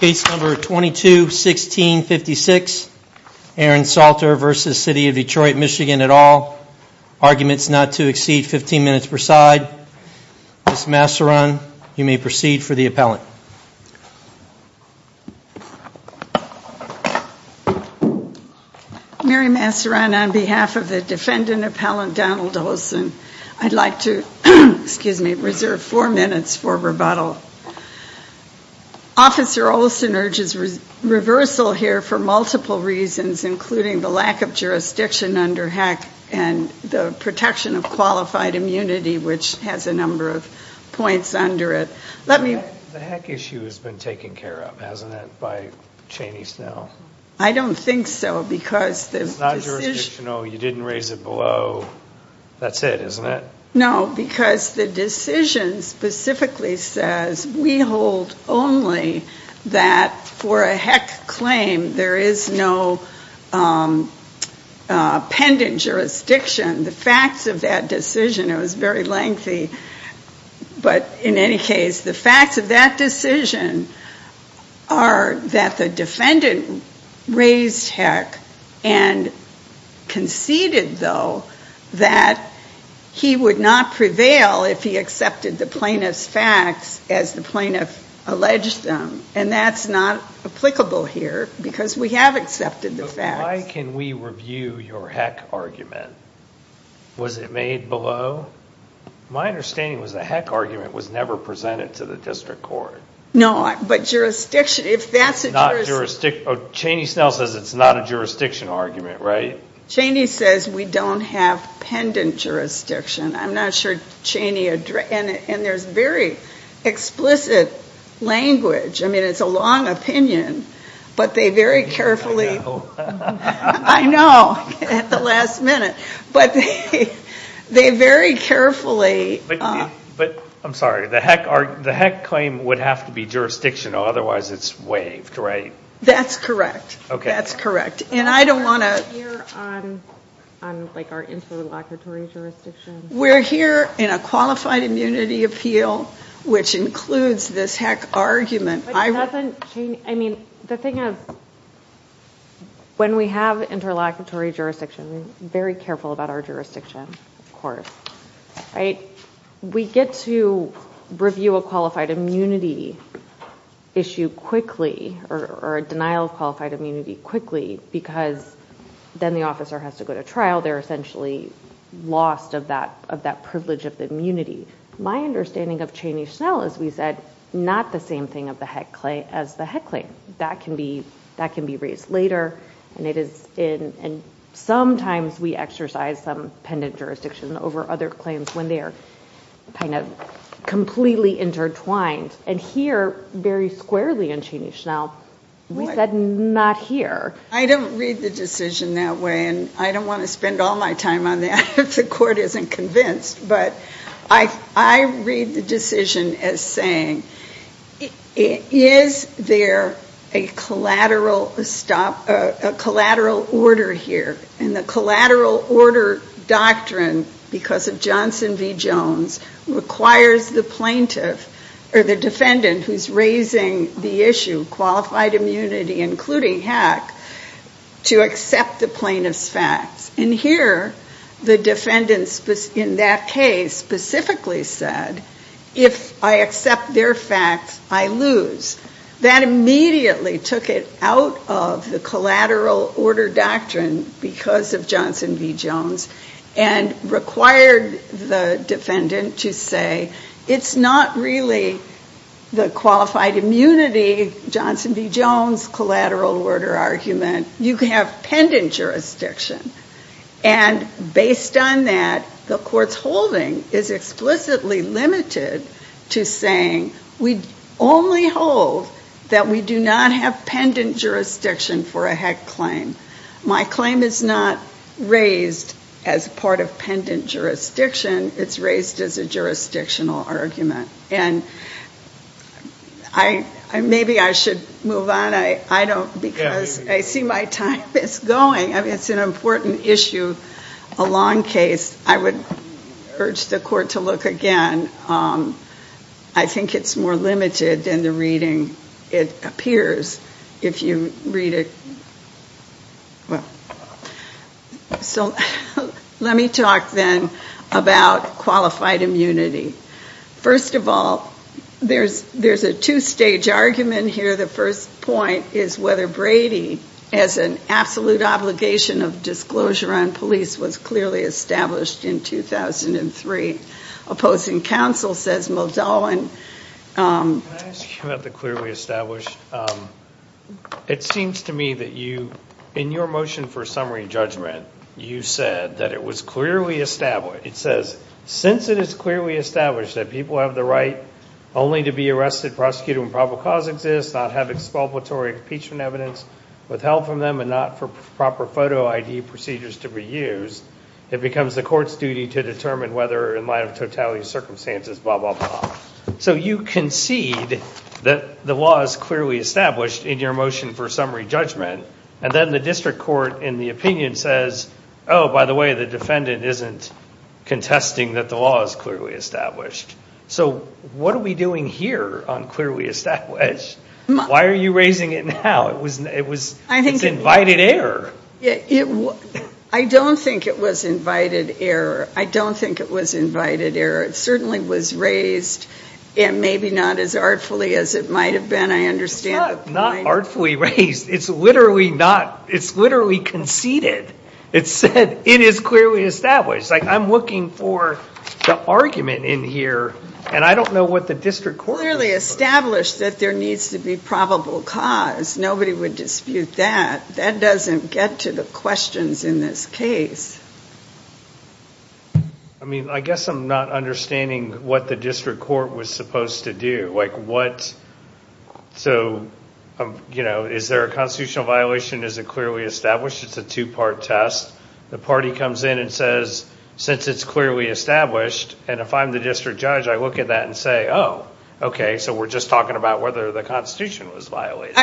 Case number 22-16-56, Aaron Salter v. City of Detroit MI at all. Arguments not to exceed 15 minutes per side. Ms. Masseron, you may proceed for the appellant. Mary Masseron on behalf of the defendant appellant Donald Olson, I'd like to reserve four minutes for rebuttal. Officer Olson urges reversal here for multiple reasons, including the lack of jurisdiction under HEC and the protection of qualified immunity, which has a number of points under it. The HEC issue has been taken care of, hasn't it, by Cheney-Snell? I don't think so. It's not jurisdictional. You didn't raise it below. That's it, isn't it? No, because the decision specifically says we hold only that for a HEC claim there is no pendent jurisdiction. The facts of that decision, it was very lengthy, but in any case, the facts of that decision are that the defendant raised HEC and conceded, though, that he would not prevail if he accepted the plaintiff's facts as the plaintiff alleged them, and that's not applicable here because we have accepted the facts. But why can we review your HEC argument? Was it made below? My understanding was the HEC argument was never presented to the district court. No, but jurisdiction, if that's a jurisdiction... Cheney-Snell says it's not a jurisdiction argument, right? Cheney says we don't have pendent jurisdiction. I'm not sure Cheney... And there's very explicit language. I mean, it's a long opinion, but they very carefully... I know. I know, at the last minute. But they very carefully... But, I'm sorry, the HEC claim would have to be jurisdictional, otherwise it's waived, right? That's correct. That's correct. And I don't want to... We're here on our interlocutory jurisdiction. We're here in a qualified immunity appeal, which includes this HEC argument. I mean, the thing is, when we have interlocutory jurisdiction, we're very careful about our jurisdiction, of course, right? We get to review a qualified immunity issue quickly, or a denial of qualified immunity quickly, because then the officer has to go to trial. They're essentially lost of that privilege of the immunity. My understanding of Cheney-Schnell, as we said, not the same thing as the HEC claim. That can be raised later, and sometimes we exercise some pendent jurisdiction over other claims when they are kind of completely intertwined. And here, very squarely in Cheney-Schnell, we said not here. I don't read the decision that way, and I don't want to spend all my time on that if the court isn't convinced. But I read the decision as saying, is there a collateral stop, a collateral order here? And the collateral order doctrine, because of Johnson v. Jones, requires the plaintiff, or the defendant who's raising the issue, qualified immunity including HEC, to accept the plaintiff's facts. And here, the defendant in that case specifically said, if I accept their facts, I lose. That immediately took it out of the collateral order doctrine, because of Johnson v. Jones, and required the defendant to say, it's not really the qualified immunity, Johnson v. Jones, collateral order argument. You have pendent jurisdiction. And based on that, the court's holding is explicitly limited to saying, we only hold that we do not have pendent jurisdiction for a HEC claim. My claim is not raised as part of pendent jurisdiction. It's raised as a jurisdictional argument. And maybe I should move on. I don't, because I see my time is going. It's an important issue, a long case. I would urge the court to look again. I think it's more limited than the reading it appears, if you read it. So let me talk then about qualified immunity. First of all, there's a two-stage argument here. The first point is whether Brady, as an absolute obligation of disclosure on police, was clearly established in 2003. Opposing counsel says Muldoon. Can I ask you about the clearly established? It seems to me that you, in your motion for summary judgment, you said that it was clearly established. It says, since it is clearly established that people have the right only to be arrested, prosecuted when probable cause exists, not have expulsory impeachment evidence, withheld from them, and not for proper photo ID procedures to be used, it becomes the court's duty to determine whether, in light of totality of circumstances, blah, blah, blah. So you concede that the law is clearly established in your motion for summary judgment. And then the district court, in the opinion, says, oh, by the way, the defendant isn't contesting that the law is clearly established. So what are we doing here on clearly established? Why are you raising it now? It's invited error. I don't think it was invited error. I don't think it was invited error. It certainly was raised, and maybe not as artfully as it might have been, I understand. It's not artfully raised. It's literally conceded. It said, it is clearly established. Like, I'm looking for the argument in here, and I don't know what the district court is looking for. Clearly established that there needs to be probable cause. Nobody would dispute that. That doesn't get to the questions in this case. I mean, I guess I'm not understanding what the district court was supposed to do. So, you know, is there a constitutional violation? Is it clearly established? It's a two-part test. The party comes in and says, since it's clearly established, and if I'm the district judge, I look at that and say, oh, okay, so we're just talking about whether the Constitution was violated.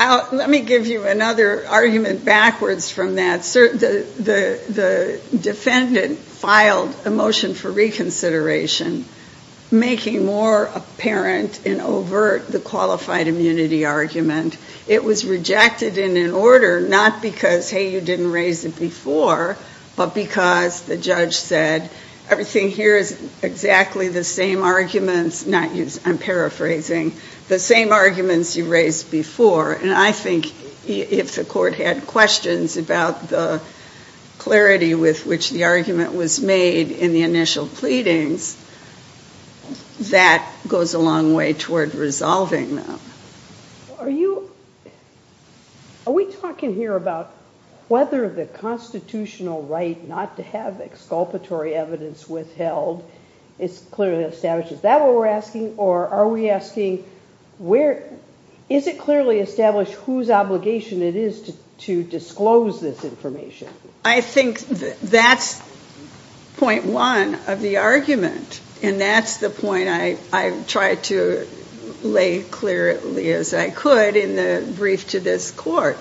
Let me give you another argument backwards from that. The defendant filed a motion for reconsideration, making more apparent and overt the qualified immunity argument. It was rejected in an order not because, hey, you didn't raise it before, but because the judge said, everything here is exactly the same arguments. I'm paraphrasing. The same arguments you raised before. And I think if the court had questions about the clarity with which the argument was made in the initial pleadings, that goes a long way toward resolving them. Are we talking here about whether the constitutional right not to have exculpatory evidence withheld is clearly established? Is that what we're asking? Or are we asking, is it clearly established whose obligation it is to disclose this information? I think that's point one of the argument. And that's the point I tried to lay clearly as I could in the brief to this court.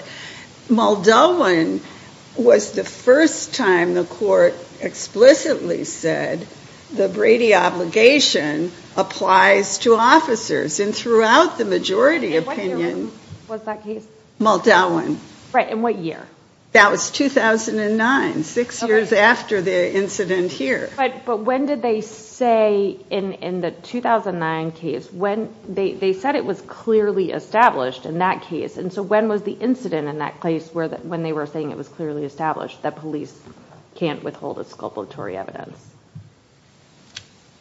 Muldowen was the first time the court explicitly said the Brady obligation applies to officers. And throughout the majority opinion, Muldowen. And what year? That was 2009, six years after the incident here. But when did they say in the 2009 case, they said it was clearly established in that case. And so when was the incident in that case when they were saying it was clearly established that police can't withhold exculpatory evidence?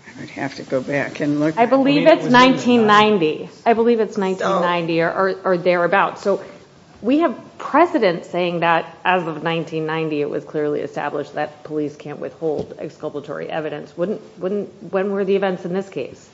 I would have to go back and look. I believe it's 1990. I believe it's 1990 or thereabouts. So we have precedent saying that as of 1990, it was clearly established that police can't withhold exculpatory evidence. When were the events in this case?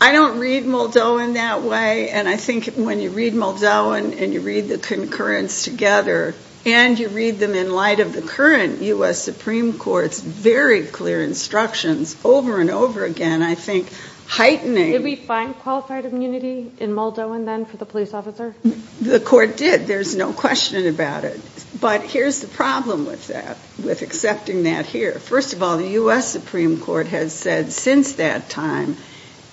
I don't read Muldowen that way. And I think when you read Muldowen and you read the concurrence together, and you read them in light of the current U.S. Supreme Court's very clear instructions over and over again, I think heightening. Did we find qualified immunity in Muldowen then for the police officer? The court did. There's no question about it. But here's the problem with that, with accepting that here. First of all, the U.S. Supreme Court has said since that time,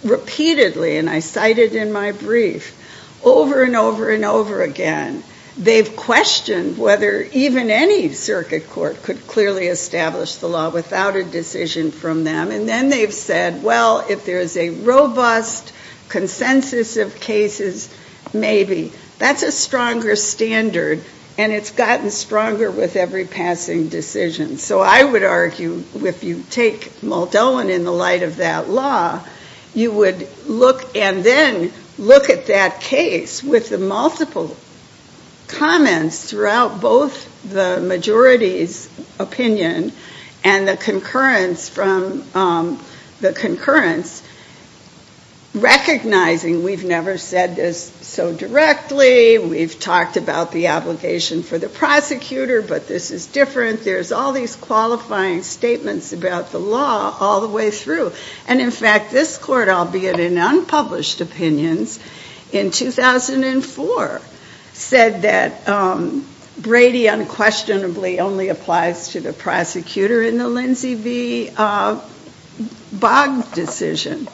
repeatedly, and I cited in my brief, over and over and over again, they've questioned whether even any circuit court could clearly establish the law without a decision from them. And then they've said, well, if there's a robust consensus of cases, maybe. That's a stronger standard. And it's gotten stronger with every passing decision. So I would argue if you take Muldowen in the light of that law, you would look and then look at that case with the multiple comments throughout both the majority's opinion and the concurrence from the concurrence, recognizing we've never said this so directly. We've talked about the obligation for the prosecutor. But this is different. There's all these qualifying statements about the law all the way through. And in fact, this court, albeit in unpublished opinions, in 2004 said that Brady unquestionably only applies to the prosecutor in the Lindsay v. Boggs decision.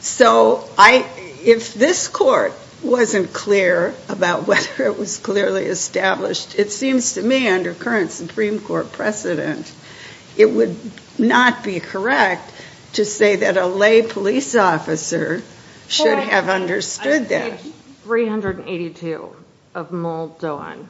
So if this court wasn't clear about whether it was clearly established, it seems to me under current Supreme Court precedent, it would not be correct to say that a lay police officer should have understood that. Page 382 of Muldowen.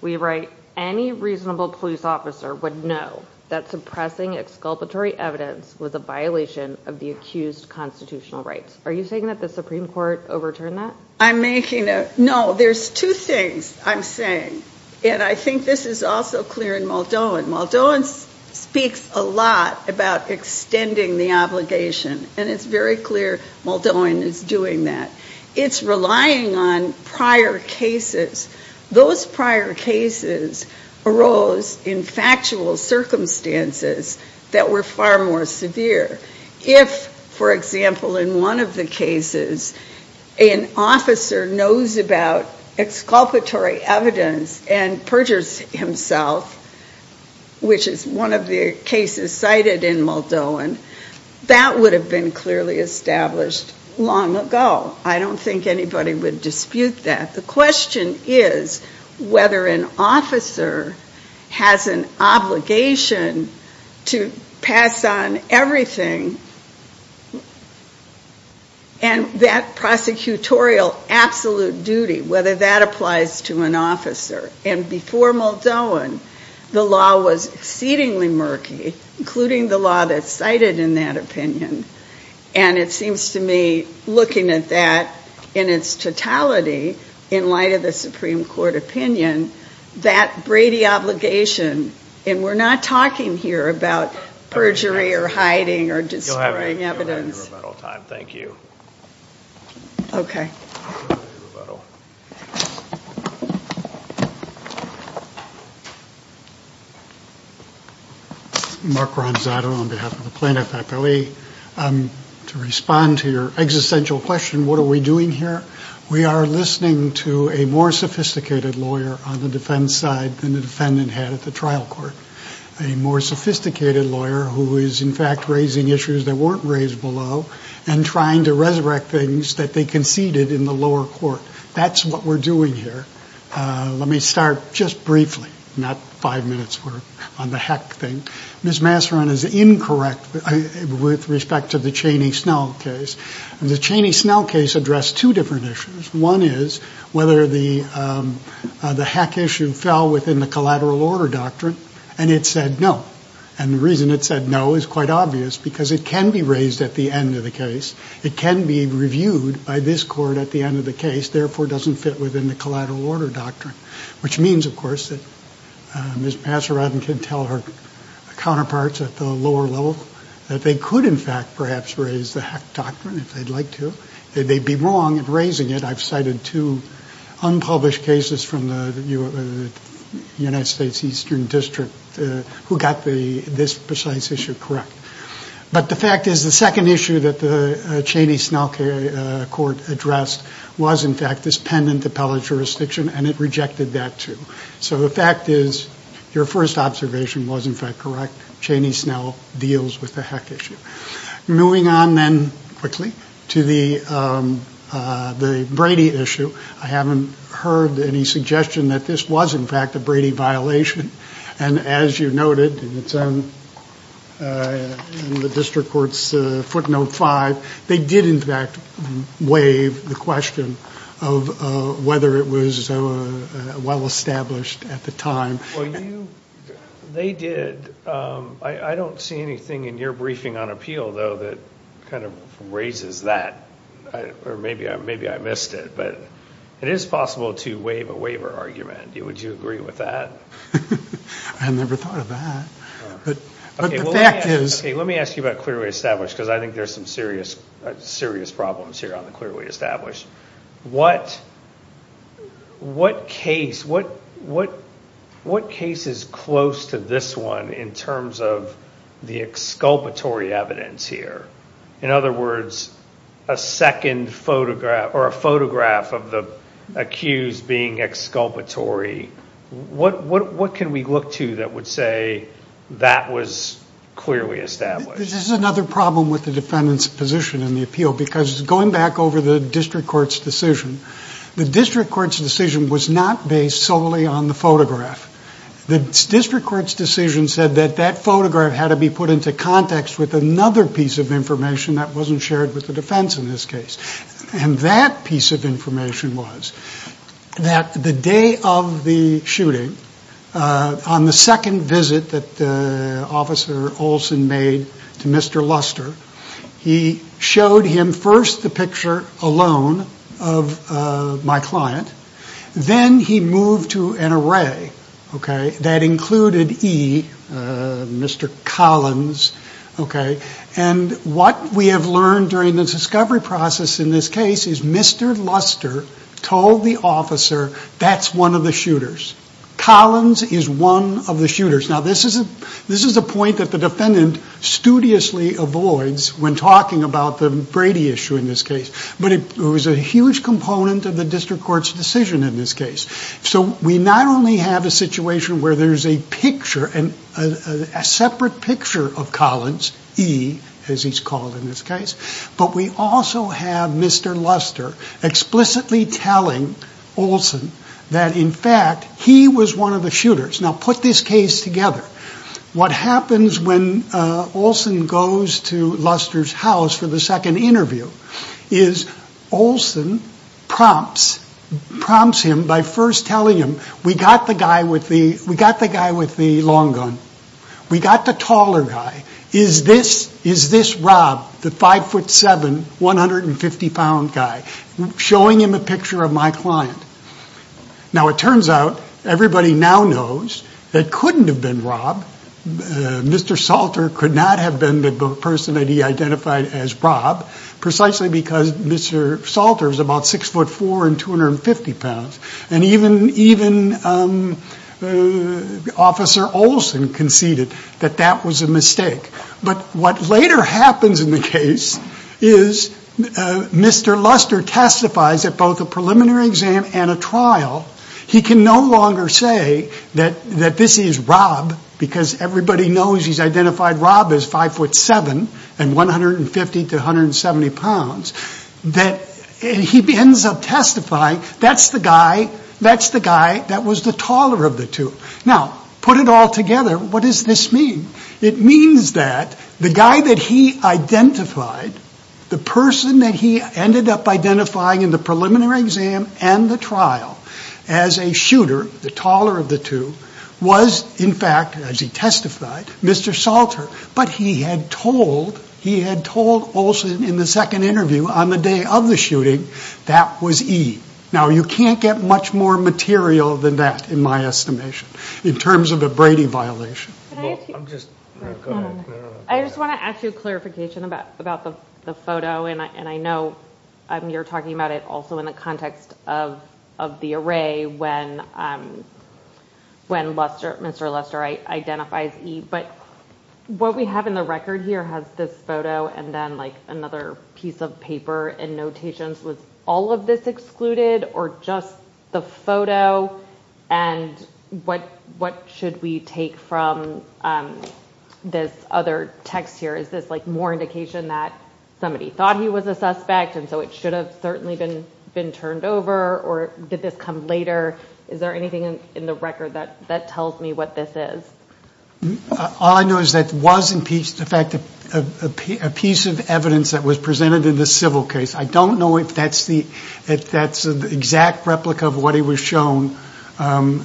We write, any reasonable police officer would know that suppressing exculpatory evidence was a violation of the accused constitutional rights. Are you saying that the Supreme Court overturned that? I'm making a... No, there's two things I'm saying. And I think this is also clear in Muldowen. Muldowen speaks a lot about extending the obligation. And it's very clear Muldowen is doing that. It's relying on prior cases. Those prior cases arose in factual circumstances that were far more severe. If, for example, in one of the cases, an officer knows about exculpatory evidence and perjures himself, which is one of the cases cited in Muldowen, that would have been clearly established long ago. I don't think anybody would dispute that. The question is whether an officer has an obligation to pass on everything and that prosecutorial absolute duty, whether that applies to an officer. And before Muldowen, the law was exceedingly murky, including the law that's cited in that opinion. And it seems to me, looking at that in its totality, in light of the Supreme Court opinion, that Brady obligation... And we're not talking here about perjury or hiding or destroying evidence. You'll have your rebuttal time. Thank you. Okay. Rebuttal. Mark Ronzato on behalf of the plaintiff, FLE. To respond to your existential question, what are we doing here? We are listening to a more sophisticated lawyer on the defense side than the defendant had at the trial court. A more sophisticated lawyer who is, in fact, raising issues that weren't raised below and trying to resurrect things that they conceded in the lower court. That's what we're doing here. Let me start just briefly, not five minutes on the heck thing. Ms. Masseron is incorrect with respect to the Cheney-Snell case. The Cheney-Snell case addressed two different issues. One is whether the heck issue fell within the collateral order doctrine, and it said no. And the reason it said no is quite obvious, because it can be raised at the end of the case. It can be reviewed by this court at the end of the case. Therefore, it doesn't fit within the collateral order doctrine. Which means, of course, that Ms. Masseron can tell her counterparts at the lower level that they could, in fact, perhaps raise the heck doctrine if they'd like to. They'd be wrong in raising it. I've cited two unpublished cases from the United States Eastern District who got this precise issue correct. But the fact is, the second issue that the Cheney-Snell court addressed was, in fact, this pendent appellate jurisdiction, and it rejected that too. So the fact is, your first observation was, in fact, correct. Cheney-Snell deals with the heck issue. Moving on then, quickly, to the Brady issue. I haven't heard any suggestion that this was, in fact, a Brady violation. And as you noted in the district court's footnote five, they did, in fact, waive the question of whether it was well established at the time. They did. I don't see anything in your briefing on appeal, though, that kind of raises that. Or maybe I missed it. But it is possible to waive a waiver argument. Would you agree with that? I never thought of that. But the fact is... Let me ask you about clearly established, because I think there's some serious problems here on the clearly established. What case is close to this one in terms of the exculpatory evidence here? In other words, a second photograph or a photograph of the accused being exculpatory. What can we look to that would say that was clearly established? This is another problem with the defendant's position in the appeal. Because going back over the district court's decision, the district court's decision was not based solely on the photograph. The district court's decision said that that photograph had to be put into context with another piece of information that wasn't shared with the defense in this case. And that piece of information was that the day of the shooting, on the second visit that Officer Olson made to Mr. Luster, he showed him first the picture alone of my client. Then he moved to an array that included E, Mr. Collins. And what we have learned during this discovery process in this case is Mr. Luster told the officer that's one of the shooters. Collins is one of the shooters. Now this is a point that the defendant studiously avoids when talking about the Brady issue in this case. But it was a huge component of the district court's decision in this case. So we not only have a situation where there's a picture, a separate picture of Collins, E as he's called in this case, but we also have Mr. Luster explicitly telling Olson that in fact he was one of the shooters. Now put this case together. What happens when Olson goes to Luster's house for the second interview is Olson prompts him by first telling him, we got the guy with the long gun. We got the taller guy. Is this Rob, the 5'7", 150-pound guy? Showing him a picture of my client. Now it turns out everybody now knows it couldn't have been Rob. Mr. Salter could not have been the person that he identified as Rob precisely because Mr. Salter is about 6'4", 250 pounds. And even Officer Olson conceded that that was a mistake. But what later happens in the case is Mr. Luster testifies at both a preliminary exam and a trial. He can no longer say that this is Rob because everybody knows he's identified Rob as 5'7", and 150-170 pounds. He ends up testifying that's the guy that was the taller of the two. Now put it all together. What does this mean? It means that the guy that he identified, the person that he ended up identifying in the preliminary exam and the trial, as a shooter, the taller of the two, was in fact, as he testified, Mr. Salter. But he had told Olson in the second interview on the day of the shooting that was Eve. Now you can't get much more material than that in my estimation in terms of a Brady violation. I just want to ask you a clarification about the photo. And I know you're talking about it also in the context of the array when Mr. Luster identifies Eve. But what we have in the record here has this photo and then another piece of paper and notations. Was all of this excluded or just the photo? And what should we take from this other text here? Is this like more indication that somebody thought he was a suspect and so it should have certainly been turned over? Or did this come later? Is there anything in the record that tells me what this is? All I know is that it was a piece of evidence that was presented in the civil case. I don't know if that's the exact replica of what he was shown in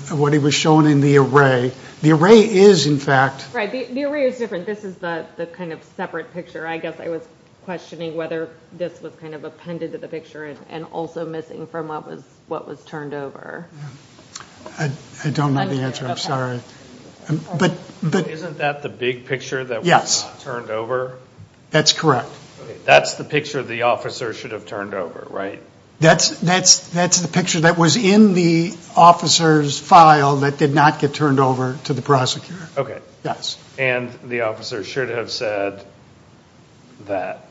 the array. The array is, in fact... Right, the array is different. This is the kind of separate picture. I guess I was questioning whether this was kind of appended to the picture and also missing from what was turned over. I don't know the answer, I'm sorry. Isn't that the big picture that was turned over? Yes, that's correct. That's the picture the officer should have turned over, right? That's the picture that was in the officer's file that did not get turned over to the prosecutor. Yes. And the officer should have said that.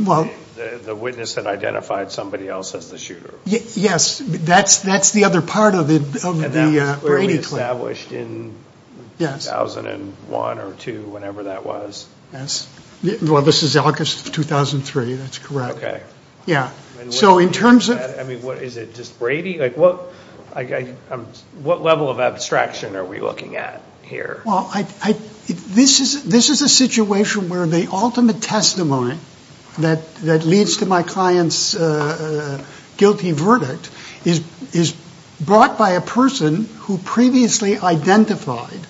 Well... The witness had identified somebody else as the shooter. Yes, that's the other part of the radio clip. And that was clearly established in 2001 or 2, whenever that was. Well, this is August of 2003, that's correct. Yeah. So in terms of... I mean, is it just Brady? Like, what level of abstraction are we looking at here? Well, this is a situation where the ultimate testimony that leads to my client's guilty verdict is brought by a person who previously identified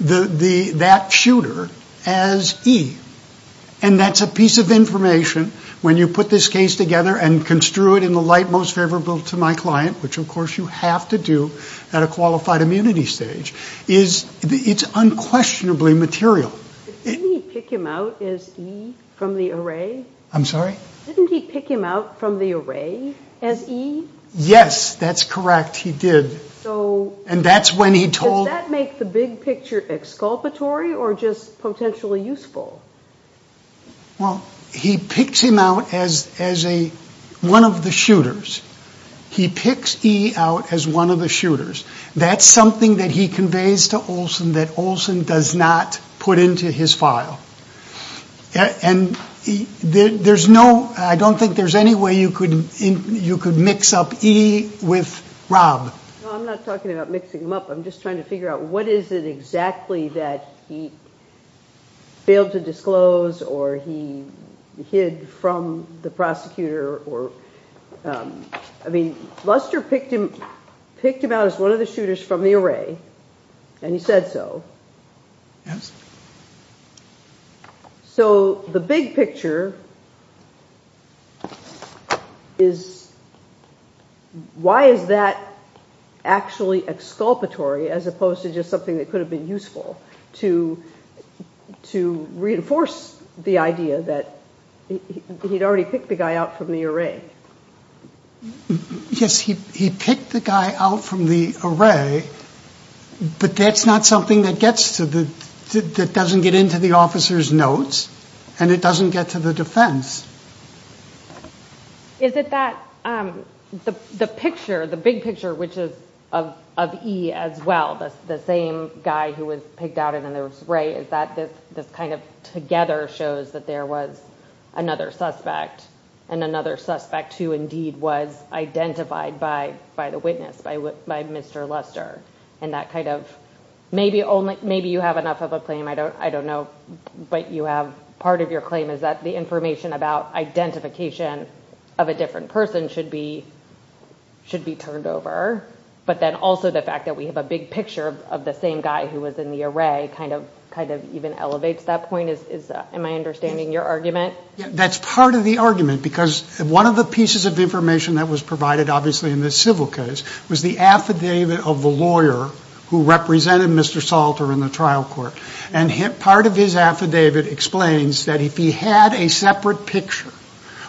that shooter as E. And that's a piece of information, when you put this case together and construe it in the light most favorable to my client, which of course you have to do at a qualified immunity stage, it's unquestionably material. Didn't he pick him out as E from the array? I'm sorry? Didn't he pick him out from the array as E? Yes, that's correct, he did. So... And that's when he told... Does that make the big picture exculpatory or just potentially useful? Well, he picks him out as one of the shooters. He picks E out as one of the shooters. That's something that he conveys to Olson that Olson does not put into his file. And there's no... I don't think there's any way you could mix up E with Rob. Well, I'm not talking about mixing them up, I'm just trying to figure out what is it exactly that he failed to disclose or he hid from the prosecutor or... I mean, Lester picked him out as one of the shooters from the array, and he said so. Yes. So the big picture is why is that actually exculpatory as opposed to just something that could have been useful to reinforce the idea that he'd already picked the guy out from the array? Yes, he picked the guy out from the array, but that's not something that gets to the... that doesn't get into the officer's notes, and it doesn't get to the defense. Is it that the picture, the big picture, which is of E as well, the same guy who was picked out and then there was Ray, is that this kind of together shows that there was another suspect and another suspect who indeed was identified by the witness, by Mr. Lester, and that kind of... Maybe you have enough of a claim, I don't know, but you have part of your claim is that the information about identification of a different person should be turned over, but then also the fact that we have a big picture of the same guy who was in the array kind of even elevates that point. Am I understanding your argument? That's part of the argument because one of the pieces of information that was provided obviously in this civil case was the affidavit of the lawyer who represented Mr. Salter in the trial court, and part of his affidavit explains that if he had a separate picture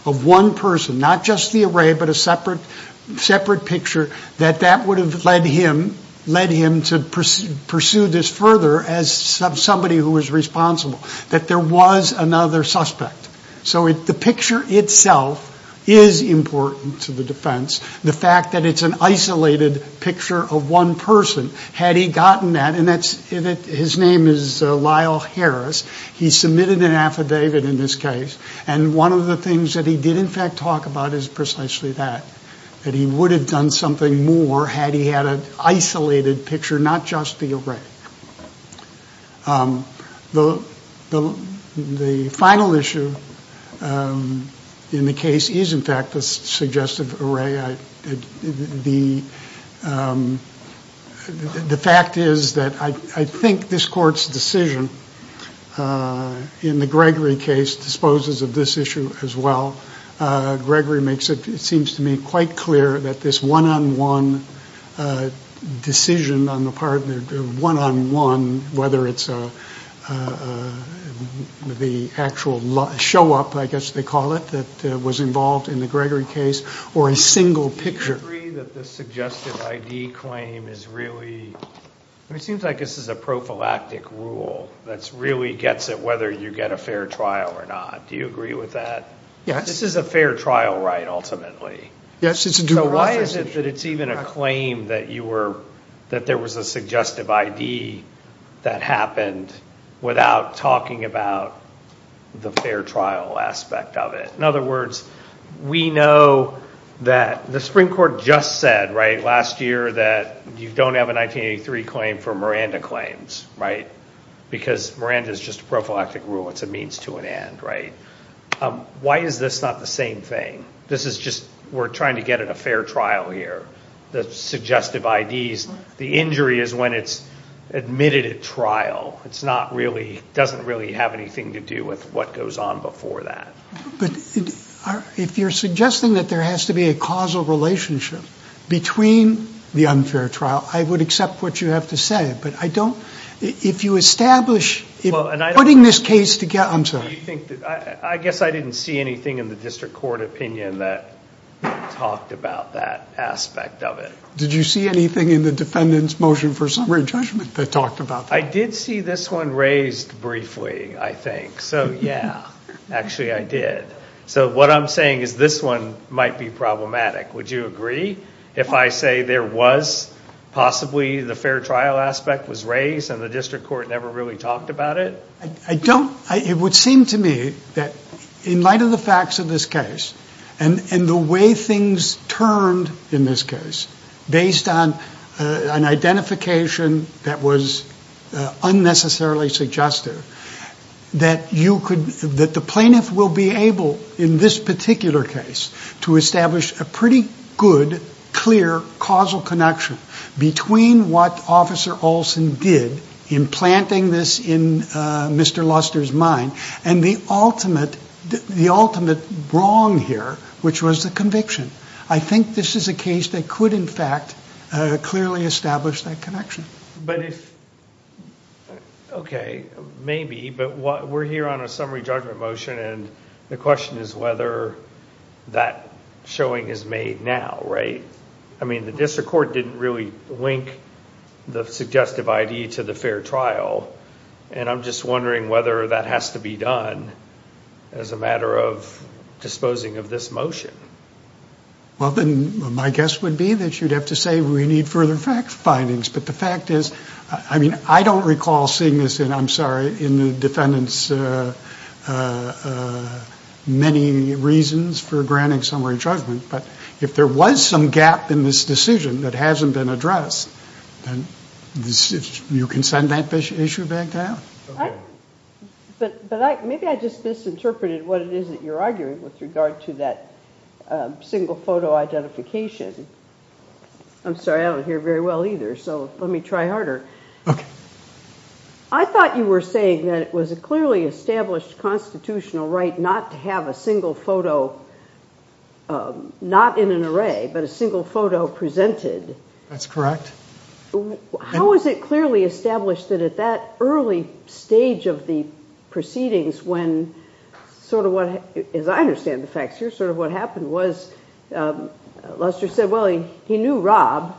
of one person, not just the array, but a separate picture, that that would have led him to pursue this further as somebody who was responsible, that there was another suspect. So the picture itself is important to the defense, the fact that it's an isolated picture of one person. Had he gotten that, and his name is Lyle Harris, he submitted an affidavit in this case, and one of the things that he did in fact talk about is precisely that, that he would have done something more had he had an isolated picture, not just the array. The final issue in the case is in fact the suggestive array. The fact is that I think this court's decision in the Gregory case disposes of this issue as well. Gregory makes it, it seems to me, quite clear that this one-on-one decision on the part of the one-on-one, whether it's the actual show-up, I guess they call it, that was involved in the Gregory case, or a single picture. Do you agree that the suggestive ID claim is really, it seems like this is a prophylactic rule that really gets at whether you get a fair trial or not. Do you agree with that? Yes. This is a fair trial, right, ultimately. Yes, it's a due process issue. So why is it that it's even a claim that there was a suggestive ID that happened without talking about the fair trial aspect of it? In other words, we know that the Supreme Court just said last year that you don't have a 1983 claim for Miranda claims, right? Because Miranda's just a prophylactic rule, it's a means to an end, right? Why is this not the same thing? This is just, we're trying to get at a fair trial here. The suggestive IDs, the injury is when it's admitted at trial. It's not really, doesn't really have anything to do with what goes on before that. But if you're suggesting that there has to be a causal relationship between the unfair trial, I would accept what you have to say, but I don't, if you establish, if putting this case together, I'm sorry. I guess I didn't see anything in the district court opinion that talked about that aspect of it. Did you see anything in the defendant's motion for summary judgment that talked about that? I did see this one raised briefly, I think. So yeah, actually I did. So what I'm saying is this one might be problematic. Would you agree if I say there was possibly the fair trial aspect was raised and the district court never really talked about it? I don't, it would seem to me that in light of the facts of this case and the way things turned in this case based on an identification that was unnecessarily suggestive, that you could, that the plaintiff will be able in this particular case to establish a pretty good, clear, causal connection between what Officer Olson did in planting this in Mr. Luster's mind and the ultimate wrong here, which was the conviction. I think this is a case that could in fact clearly establish that connection. But if, okay, maybe, but we're here on a summary judgment motion and the question is whether that showing is made now, right? I mean, the district court didn't really link the suggestive ID to the fair trial and I'm just wondering whether that has to be done as a matter of disposing of this motion. Well, then my guess would be that you'd have to say we need further facts findings. But the fact is, I mean, I don't recall seeing this, and I'm sorry, in the defendant's many reasons for granting summary judgment. But if there was some gap in this decision that hasn't been addressed, then you can send that issue back down. But maybe I just misinterpreted what it is that you're arguing with regard to that single photo identification. I'm sorry, I don't hear very well either, so let me try harder. I thought you were saying that it was a clearly established constitutional right not to have a single photo, not in an array, but a single photo presented. That's correct. How is it clearly established that at that early stage of the proceedings when sort of what, as I understand the facts here, sort of what happened was Luster said, well, he knew Rob,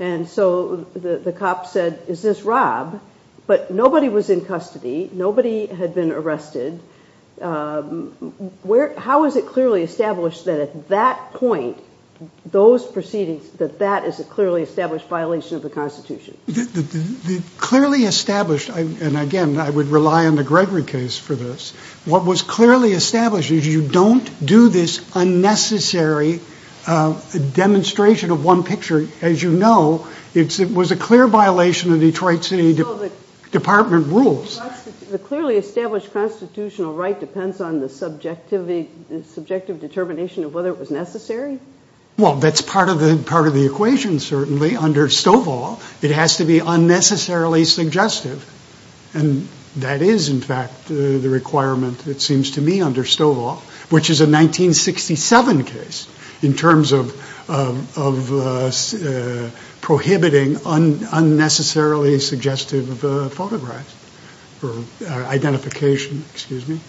and so the cop said, is this Rob? But nobody was in custody, nobody had been arrested, how is it clearly established that at that point, those proceedings, that that is a clearly established violation of the Constitution? Clearly established, and again, I would rely on the Gregory case for this, what was clearly established is you don't do this unnecessary demonstration of one picture. As you know, it was a clear violation of Detroit City Department rules. The clearly established constitutional right depends on the subjective determination of whether it was necessary? Well, that's part of the equation, certainly. Under Stovall, it has to be unnecessarily suggestive, and that is, in fact, the requirement, it seems to me, under Stovall, which is a 1967 case, in terms of prohibiting unnecessarily suggestive photographs. Identification, excuse me.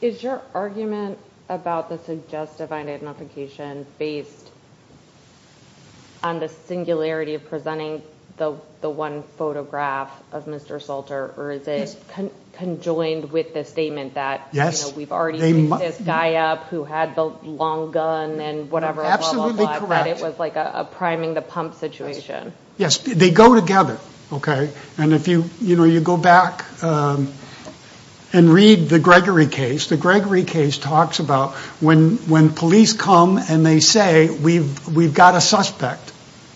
Is your argument about the suggestive identification based on the singularity of presenting the one photograph of Mr. Salter, or is it conjoined with the statement that we've already picked this guy up who had the long gun and whatever, that it was like a priming the pump situation? Yes, they go together, okay? And if you go back and read the Gregory case, the Gregory case talks about when police come and they say, we've got a suspect,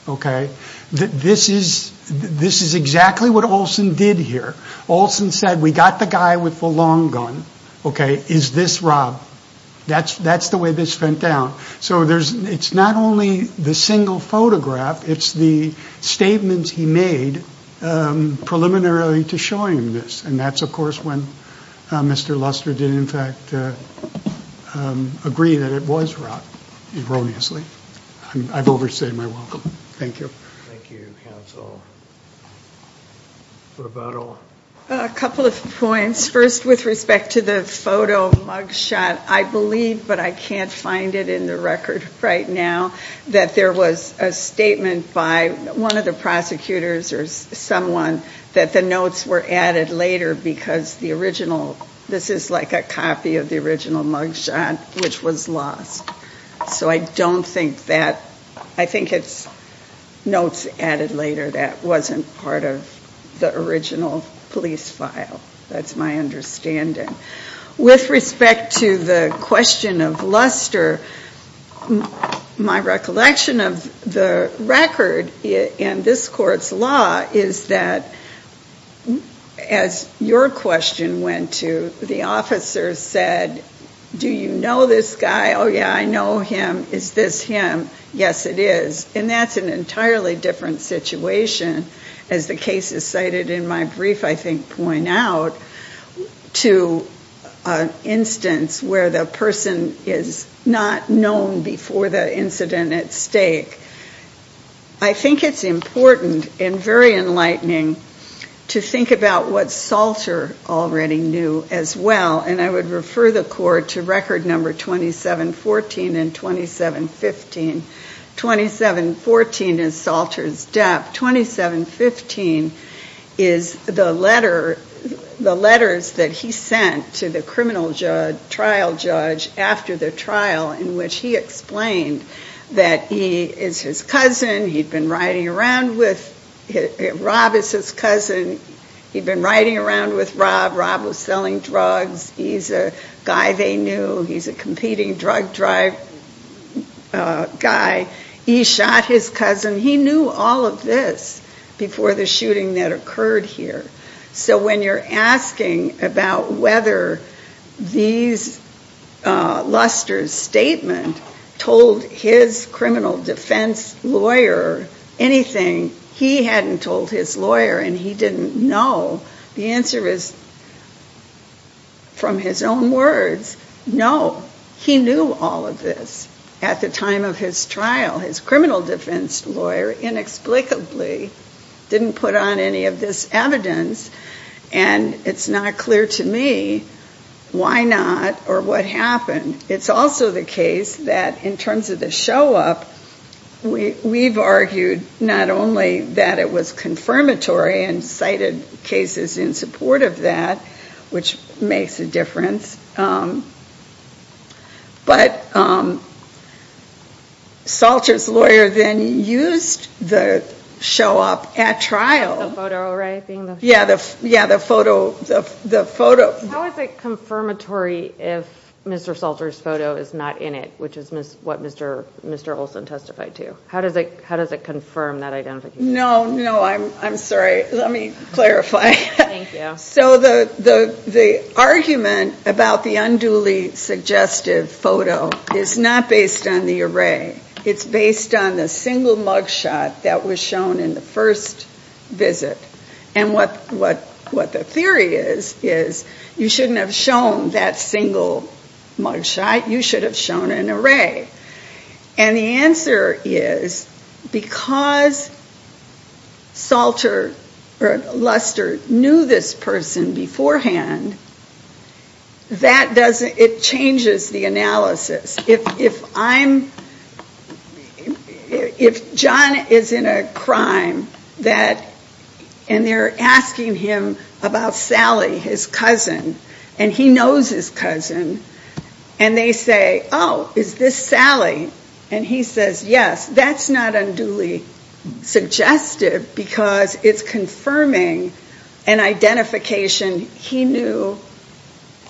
okay? This is exactly what Olson did here. Olson said, we got the guy with the long gun, okay? Is this Rob? That's the way this went down. So it's not only the single photograph, it's the statements he made preliminarily to showing this. And that's, of course, when Mr. Luster did, in fact, agree that it was Rob erroneously. I've overstated my welcome. Thank you. Thank you, counsel. Roberto. A couple of points. First, with respect to the photo mug shot, I believe, but I can't find it in the record right now, that there was a statement by one of the prosecutors or someone that the notes were added later because the original, this is like a copy of the original mug shot, which was lost. So I don't think that, I think it's notes added later that wasn't part of the original police file. That's my understanding. With respect to the question of Luster, my recollection of the record in this court's law is that, as your question went to, the officer said, do you know this guy? Oh, yeah, I know him. Is this him? Yes, it is. And that's an entirely different situation, as the case is cited in my brief, I think, to an instance where the person is not known before the incident at stake. I think it's important and very enlightening to think about what Salter already knew as well, and I would refer the court to record number 2714 and 2715. 2714 is Salter's death. 2715 is the letters that he sent to the criminal trial judge after the trial in which he explained that he is his cousin. He'd been riding around with, Rob is his cousin. He'd been riding around with Rob. Rob was selling drugs. He's a guy they knew. He's a competing drug drive guy. He shot his cousin. He knew all of this before the shooting that occurred here. So when you're asking about whether Luster's statement told his criminal defense lawyer anything, he hadn't told his lawyer, and he didn't know. The answer is, from his own words, no. He knew all of this at the time of his trial. His defense lawyer inexplicably didn't put on any of this evidence, and it's not clear to me why not or what happened. It's also the case that in terms of the show-up, we've argued not only that it was confirmatory and cited cases in support of that, which makes a difference, but Salter's lawyer then used the show-up at trial. The photo, right? Yeah, the photo. How is it confirmatory if Mr. Salter's photo is not in it, which is what Mr. Olson testified to? How does it confirm that identification? No, no, I'm sorry. Let me clarify. Thank you. So the argument about the unduly suggestive photo is not based on the array. It's based on the single mugshot that was shown in the first visit. And what the theory is, is you shouldn't have shown that single mugshot. You should have shown an array. And the answer is because Salter or Luster knew this person beforehand, it changes the analysis. If John is in a crime and they're asking him about Sally, his cousin, and he knows his cousin, and they say, oh, is this Sally? And he says, yes. That's not unduly suggestive because it's confirming an identification he knew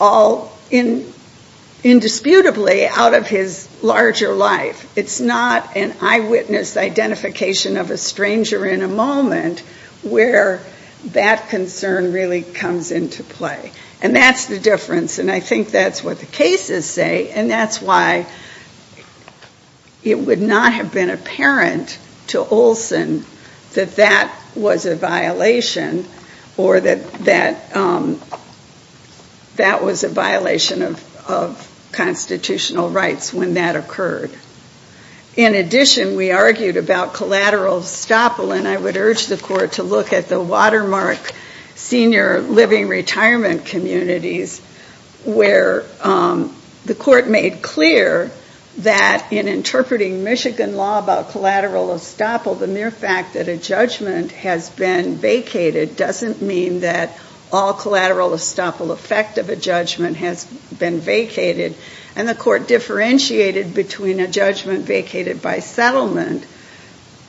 all indisputably out of his larger life. It's not an eyewitness identification of a stranger in a moment where that concern really comes into play. And that's the difference, and I think that's what the cases say, and that's why it would not have been apparent to Olson that that was a violation or that that was a violation of constitutional rights when that occurred. In addition, we argued about collateral estoppel, and I would urge the court to look at the watermark senior living retirement communities where the court made clear that in interpreting Michigan law about collateral estoppel, the mere fact that a judgment has been vacated doesn't mean that all collateral estoppel effect of a judgment has been vacated. And the court differentiated between a judgment vacated by settlement,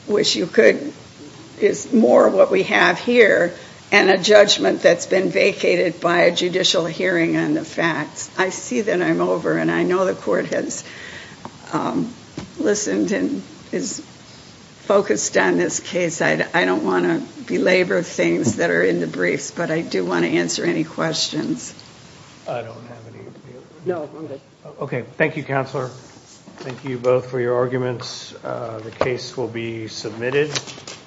which is more what we have here, and a judgment that's been vacated by a judicial hearing on the facts. I see that I'm over, and I know the court has listened and is focused on this case. I don't want to belabor things that are in the briefs, but I do want to answer any questions. I don't have any. No, I'm good. Okay, thank you, Counselor. Thank you both for your arguments. The case will be submitted.